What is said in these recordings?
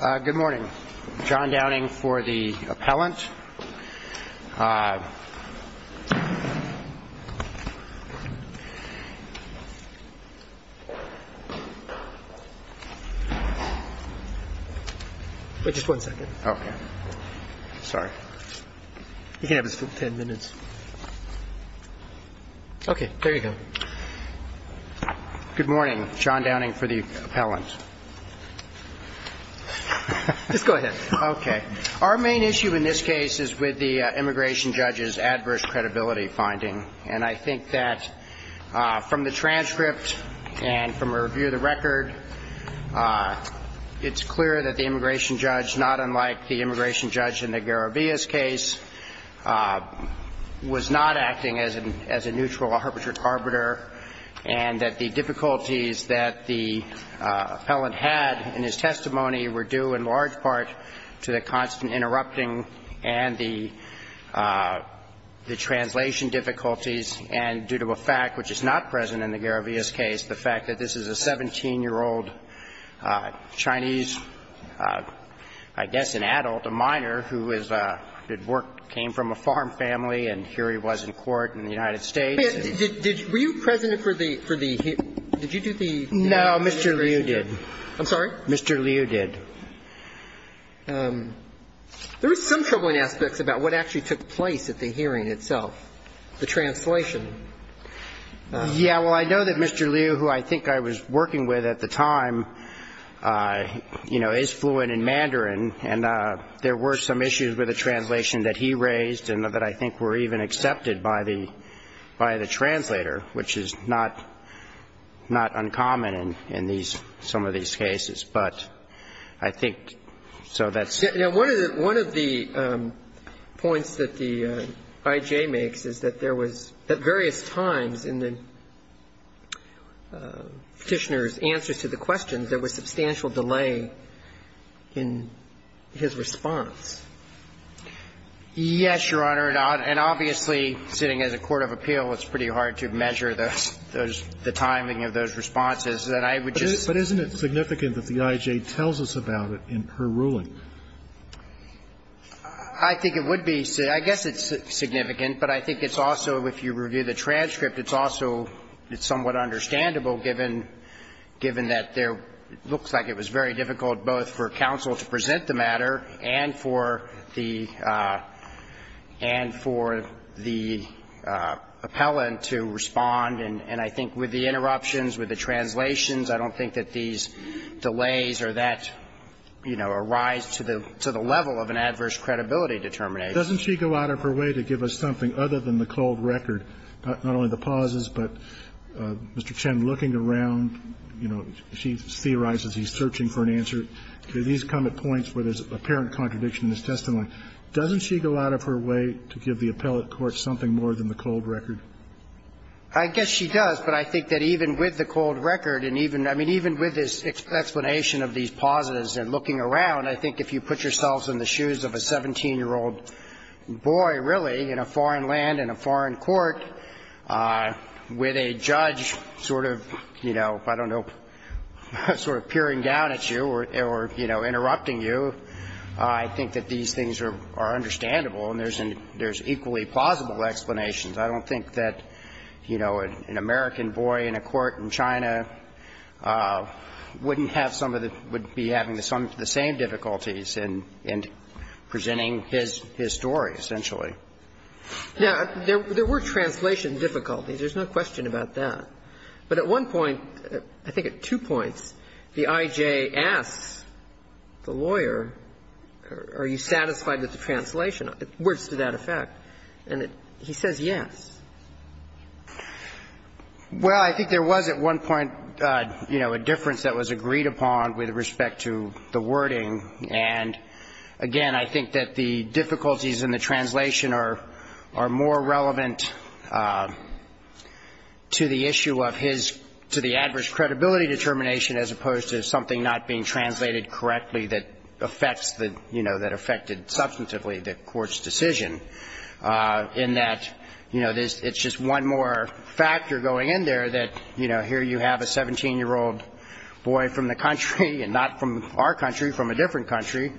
Good morning. John Downing for the appellant. Just go ahead. Okay. Our main issue in this case is with the immigration judge's adverse credibility finding. And I think that from the transcript and from a review of the record, it's clear that the immigration judge, not unlike the immigration judge in the Garabias case, was not acting as a neutral arbitrate arbiter and that the difficulties that the appellant had in his testimony were due in large part to the constant interrupting and the translation difficulties and due to a fact which is not present in the Garabias case, the fact that this is a 17-year-old Chinese, I guess an adult, a minor, who came from a farm family and here he was in court in the United States. Were you present for the hearing No. Mr. Liu did. I'm sorry? Mr. Liu did. There were some troubling aspects about what actually took place at the hearing itself, the translation. Yeah. I know that Mr. Liu, who I think I was working with at the time, you know, is fluent in mandarin. And there were some issues with the translation that he raised and that I think were even accepted by the translator, which is not uncommon in some of these cases. But I think so that's One of the points that the I.J. makes is that there was at various times in the petitioner's answers to the questions, there was substantial delay in his response. Yes, Your Honor. And obviously, sitting as a court of appeal, it's pretty hard to measure the timing of those responses. And I would just But isn't it significant that the I.J. tells us about it in her ruling? I think it would be. I guess it's significant. But I think it's also, if you review the transcript, it's also somewhat understandable given that there looks like it was very difficult both for counsel to present the matter and for the appellant to respond. And I think with the interruptions, with the translations, I don't think that these delays or that, you know, arise to the level of an adverse credibility determination. Doesn't she go out of her way to give us something other than the cold record, not only the pauses, but Mr. Chen looking around, you know, she theorizes he's searching for an answer? Do these come at points where there's apparent contradiction in his testimony? Doesn't she go out of her way to give the appellate court something more than the cold record? I guess she does, but I think that even with the cold record and even, I mean, even with this explanation of these pauses and looking around, I think if you put yourselves in the shoes of a 17-year-old boy, really, in a foreign land, in a foreign court, with a judge sort of, you know, I don't know, sort of peering down at you or, you know, interrupting you, I think that these things are understandable and there's equally plausible explanations. I don't think that, you know, an American boy in a court in China wouldn't have some of the – would be having the same difficulties in presenting his story, essentially. Now, there were translation difficulties. There's no question about that. But at one point, I think at two points, the I.J. asks the lawyer, are you satisfied with the translation, words to that effect, and he says yes. Well, I think there was at one point, you know, a difference that was agreed upon with respect to the wording. And again, I think that the difficulties in the translation are more relevant to the issue of his – to the adverse credibility determination as opposed to something not being translated correctly that affects the, you know, that affected substantively the court's decision. In that, you know, it's just one more factor going in there that, you know, here you have a 17-year-old boy from the country and not from our country, from a different country,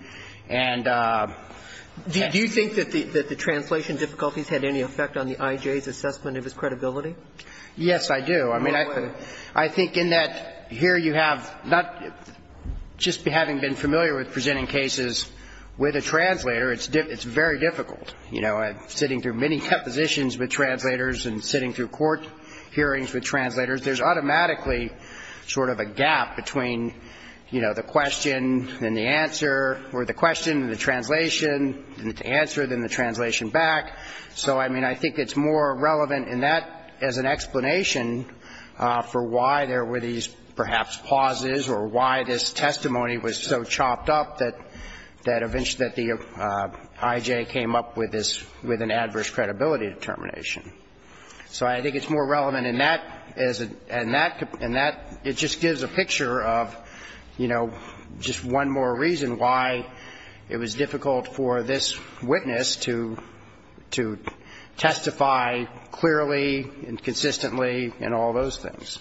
and yes. Do you think that the translation difficulties had any effect on the I.J.'s assessment of his credibility? Yes, I do. I mean, I think in that here you have not – just having been familiar with presenting cases with a translator, it's very difficult. You know, sitting through many depositions with translators and sitting through court hearings with translators, there's automatically sort of a gap between, you know, the question and the answer – or the question and the translation and the answer, then the translation back. So, I mean, I think it's more relevant in that as an explanation for why there were these, perhaps, pauses or why this testimony was so chopped up that eventually the I.J. came up with this – with an adverse credibility determination. So I think it's more relevant in that as a – in that – in that it just gives a picture of, you know, just one more reason why it was difficult for this witness to – to testify clearly and consistently and all those things.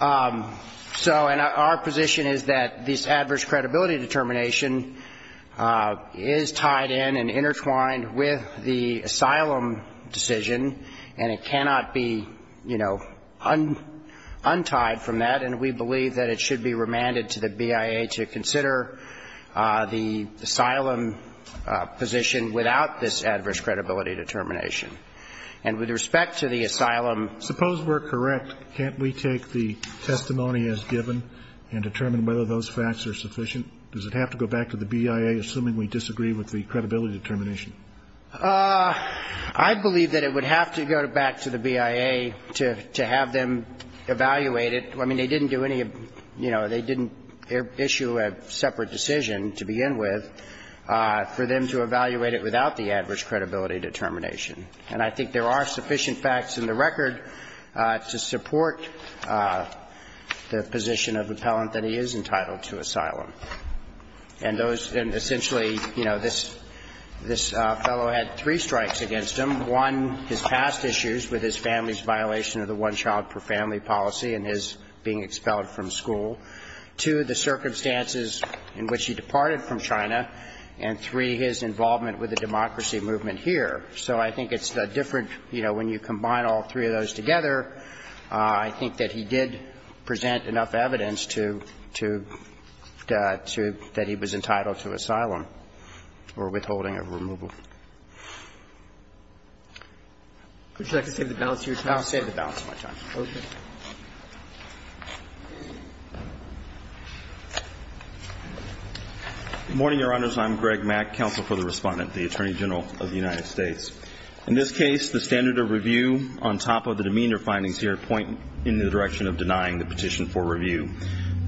So – and our position is that this adverse credibility determination is tied in and intertwined with the asylum decision, and it cannot be, you know, untied from that, and we believe that it should be remanded to the BIA to consider the asylum position without this adverse credibility determination. And with respect to the asylum – Suppose we're correct. Can't we take the testimony as given and determine whether those facts are sufficient? Does it have to go back to the BIA, assuming we disagree with the credibility determination? I believe that it would have to go back to the BIA to – to have them evaluate it. I mean, they didn't do any – you know, they didn't issue a separate decision to begin with for them to evaluate it without the adverse credibility determination. And I think there are sufficient facts in the record to support the position of appellant that he is entitled to asylum. And those – and essentially, you know, this – this fellow had three strikes against him. One, his past issues with his family's violation of the one-child-per-family policy and his being expelled from school. Two, the circumstances in which he departed from China. And three, his involvement with the democracy movement here. So I think it's a different – you know, when you combine all three of those together, I think that he did present enough evidence to – to – to – that he was entitled to asylum or withholding of removal. Would you like to save the balance of your time? I'll save the balance of my time. Good morning, Your Honors. I'm Greg Mack, Counsel for the Respondent, the Attorney General of the United States. In this case, the standard of review on top of the demeanor findings here point in the direction of denying the petition for review.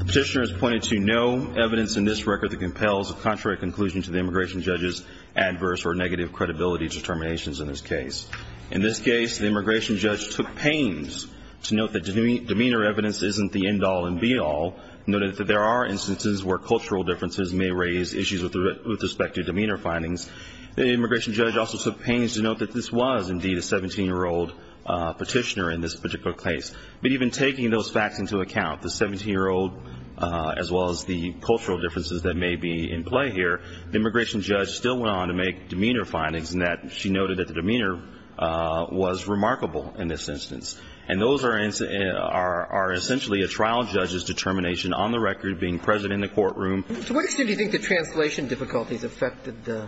The petitioner has pointed to no evidence in this record that compels a contrary conclusion to the immigration judge's adverse or negative credibility determinations in this case. In this case, the immigration judge took pains to note that demeanor evidence isn't the end-all and be-all, noting that there are instances where cultural differences may raise issues with respect to demeanor findings. The immigration judge also took pains to note that this was, indeed, a 17-year-old petitioner in this particular case. But even taking those facts into account, the 17-year-old as well as the cultural differences that may be in play here, the immigration judge still went on to make demeanor findings in that she noted that the demeanor was remarkable in this instance. And those are – are essentially a trial judge's determination on the record being present in the courtroom. So what extent do you think the translation difficulties affected the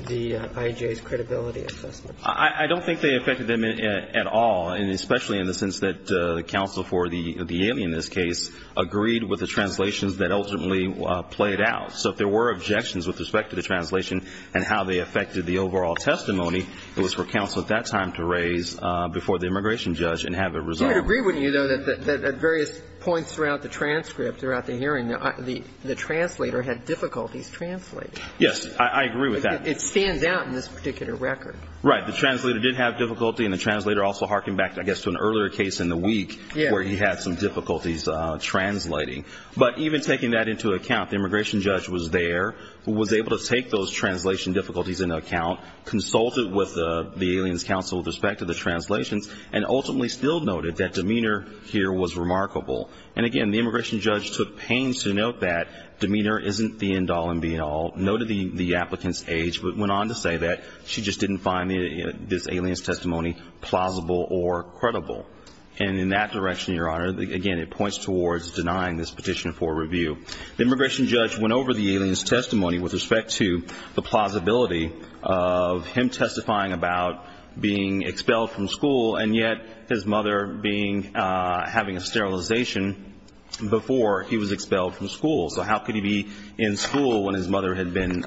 IJA's credibility assessment? I don't think they affected them at all, and especially in the sense that the counsel for the alien in this case agreed with the translations that ultimately played out. So if there were objections with respect to the translation and how they affected the overall testimony, it was for counsel at that time to raise before the immigration judge and have it resolved. You would agree, wouldn't you, though, that at various points throughout the transcript, throughout the hearing, the translator had difficulties translating? Yes. I agree with that. It stands out in this particular record. Right. The translator did have difficulty, and the translator also harkened back, I guess, to an earlier case in the week where he had some difficulties translating. But even taking that into account, the immigration judge was there, was able to take those translation difficulties into account, consulted with the aliens' counsel with respect to the translations, and ultimately still noted that demeanor here was remarkable. And, again, the immigration judge took pains to note that demeanor isn't the end all and be all, noted the applicant's age, but went on to say that she just didn't find this alien's testimony plausible or credible. And in that direction, Your Honor, again, it points towards denying this petition for review. The immigration judge went over the alien's testimony with respect to the plausibility of him testifying about being expelled from school, and yet his mother being having a sterilization before he was expelled from school. So how could he be in school when his mother had been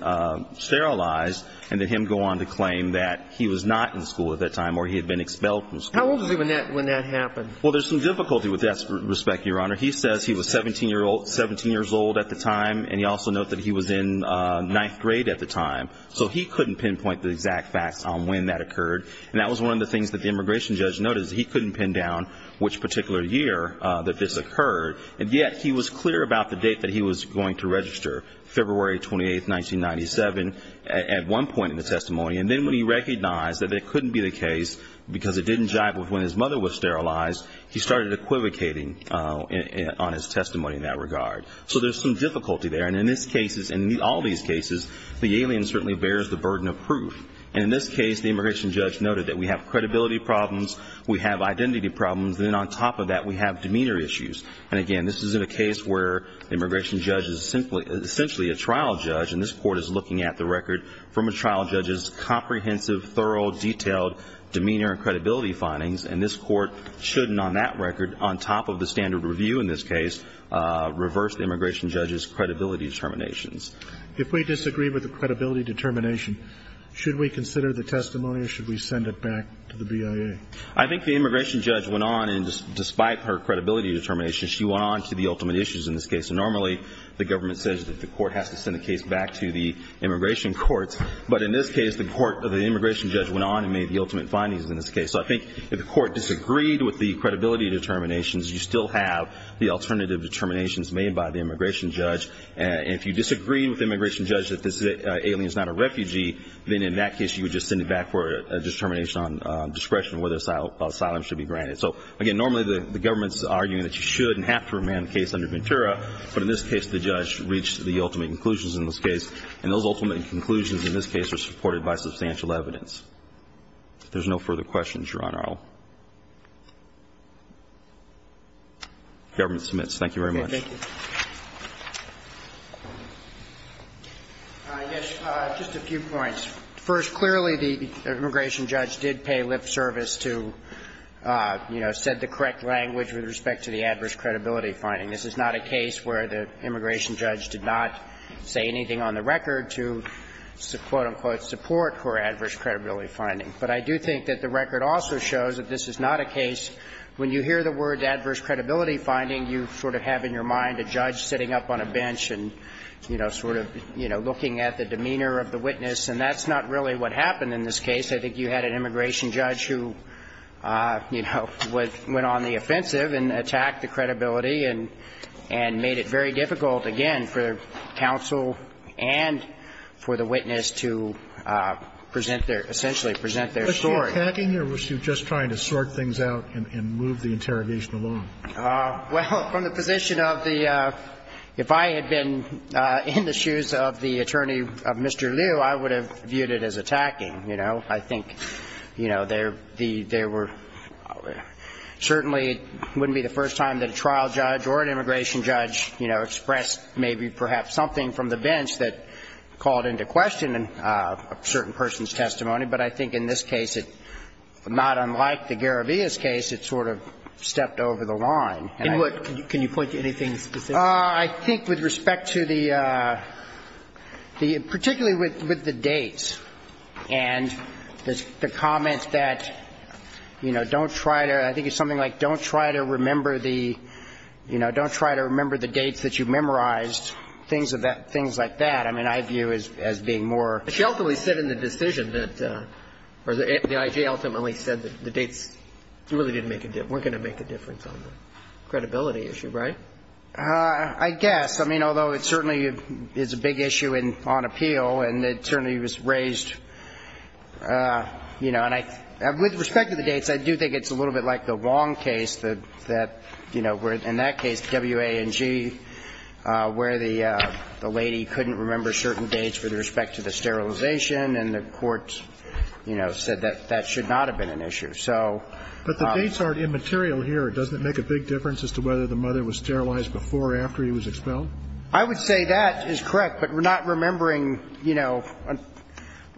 sterilized, and did him go on to claim that he was not in school at that time or he had been expelled from school? How old was he when that happened? Well, there's some difficulty with that respect, Your Honor. He says he was 17 years old at the time, and he also noted that he was in ninth grade at the time. So he couldn't pinpoint the exact facts on when that occurred, and that was one of the things that the immigration judge noted is that he couldn't pin down which particular year that this occurred. And yet he was clear about the date that he was going to register, February 28, 1997, at one point in the testimony. And then when he recognized that it couldn't be the case because it didn't jive with when his mother was sterilized, he started equivocating on his testimony in that regard. So there's some difficulty there. And in this case, in all these cases, the alien certainly bears the burden of proof. And in this case, the immigration judge noted that we have credibility problems, we have identity problems, and then on top of that, we have demeanor issues. And again, this is in a case where the immigration judge is essentially a trial judge, and this Court is looking at the record from a trial judge's comprehensive, thorough, detailed demeanor and credibility findings. And this Court shouldn't on that record, on top of the standard review in this case, reverse the immigration judge's credibility determinations. If we disagree with the credibility determination, should we consider the testimony or should we send it back to the BIA? I think the immigration judge went on, and despite her credibility determination, she went on to the ultimate issues in this case. And normally, the government says that the Court has to send the case back to the immigration courts. But in this case, the immigration judge went on and made the ultimate findings in this case. So I think if the Court disagreed with the credibility determinations, you still have the alternative determinations made by the immigration judge. And if you disagree with the immigration judge that this alien is not a refugee, then in that case, you would just send it back for a determination on discretion on whether asylum should be granted. So again, normally, the government is arguing that you should and have to remand the case under Ventura. But in this case, the judge reached the ultimate conclusions in this case. And those ultimate conclusions in this case are supported by substantial evidence. If there's no further questions, Your Honor, I will. Government submits. Thank you very much. Roberts. I guess just a few points. First, clearly, the immigration judge did pay lip service to, you know, said the correct language with respect to the adverse credibility finding. This is not a case where the immigration judge did not say anything on the record to, quote, unquote, support for adverse credibility finding. But I do think that the record also shows that this is not a case when you hear the adverse credibility finding, you sort of have in your mind a judge sitting up on a bench and, you know, sort of, you know, looking at the demeanor of the witness. And that's not really what happened in this case. I think you had an immigration judge who, you know, went on the offensive and attacked the credibility and made it very difficult, again, for counsel and for the witness to present their – essentially present their story. Were you attacking or were you just trying to sort things out and move the interrogation along? Well, from the position of the – if I had been in the shoes of the attorney of Mr. Liu, I would have viewed it as attacking, you know. I think, you know, there were – certainly it wouldn't be the first time that a trial judge or an immigration judge, you know, expressed maybe perhaps something from the not unlike the Garabias case, it sort of stepped over the line. In what? Can you point to anything specific? I think with respect to the – particularly with the dates and the comment that, you know, don't try to – I think it's something like don't try to remember the – you know, don't try to remember the dates that you memorized, things of that – things like that. I mean, I view as being more. She ultimately said in the decision that – or the IG ultimately said that the dates really didn't make a – weren't going to make a difference on the credibility issue, right? I guess. I mean, although it certainly is a big issue on appeal and the attorney was raised, you know, and I – with respect to the dates, I do think it's a little bit like the Wong case that, you know, where in that case, W-A-N-G, where the lady couldn't remember certain dates with respect to the sterilization and the court, you know, said that that should not have been an issue. So – But the dates aren't immaterial here. Doesn't it make a big difference as to whether the mother was sterilized before or after he was expelled? I would say that is correct, but not remembering, you know –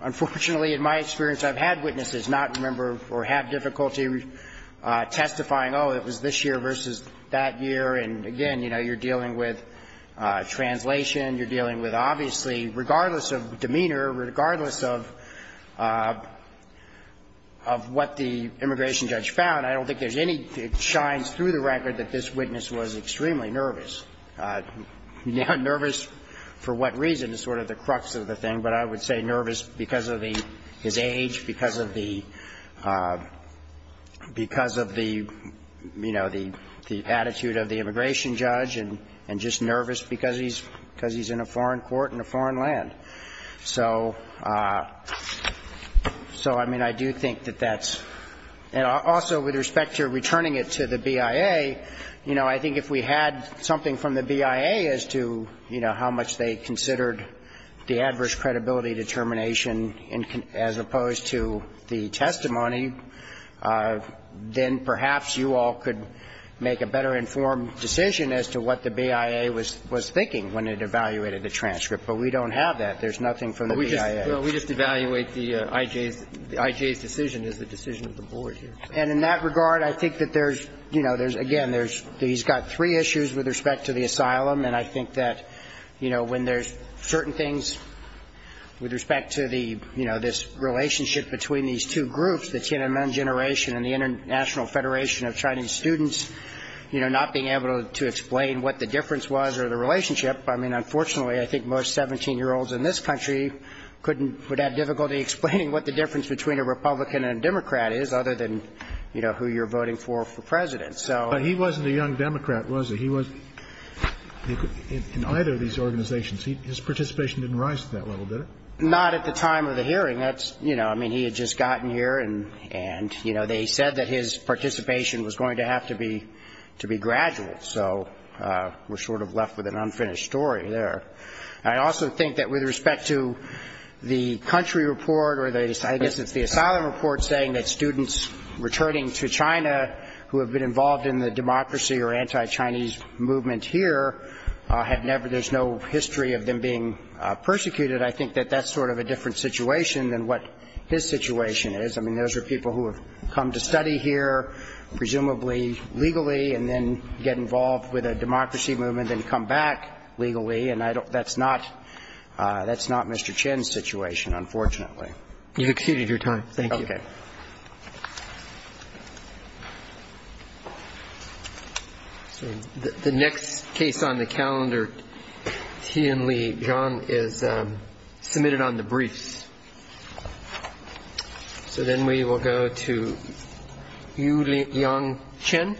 unfortunately, in my experience, I've had witnesses not remember or have difficulty testifying, oh, it was this year versus that year, and again, you know, you're dealing with obviously, regardless of demeanor, regardless of what the immigration judge found, I don't think there's any – it shines through the record that this witness was extremely nervous. Now, nervous for what reason is sort of the crux of the thing, but I would say nervous because of the – his age, because of the – because of the, you know, the attitude of the immigration judge, and just nervous because he's in a foreign court in a foreign land. So, I mean, I do think that that's – and also with respect to returning it to the BIA, you know, I think if we had something from the BIA as to, you know, how much they considered the adverse credibility determination as opposed to the testimony, then perhaps you all could make a better informed decision as to what the BIA was thinking when it evaluated the transcript. But we don't have that. There's nothing from the BIA. Well, we just evaluate the I.J.'s – the I.J.'s decision as the decision of the board here. And in that regard, I think that there's – you know, there's – again, there's – he's got three issues with respect to the asylum, and I think that, you know, when there's certain things with respect to the, you know, this relationship between these two groups, the Tiananmen Generation and the International Federation of Chinese Students, you know, not being able to explain what the difference was or the relationship, I mean, unfortunately, I think most 17-year-olds in this country couldn't – would have difficulty explaining what the difference between a Republican and a Democrat is other than, you know, who you're voting for for president. So – But he wasn't a young Democrat, was he? He was – in either of these organizations, his participation didn't rise to that level, did it? Not at the time of the hearing. That's – you know, I mean, he had just gotten here and, you know, they said that his participation was going to have to be – to be gradual. So we're sort of left with an unfinished story there. I also think that with respect to the country report or the – I guess it's the asylum report saying that students returning to China who have been involved in the democracy or anti-Chinese movement here had never – there's no history of them being persecuted. I think that that's sort of a different situation than what his situation is. I mean, those are people who have come to study here, presumably legally, and then get involved with a democracy movement and come back legally. And I don't – that's not – that's not Mr. Chin's situation, unfortunately. You've exceeded your time. Thank you. Okay. So the next case on the calendar, Tianli Zhang, is submitted on the briefs. So then we will go to Yuliang Chen.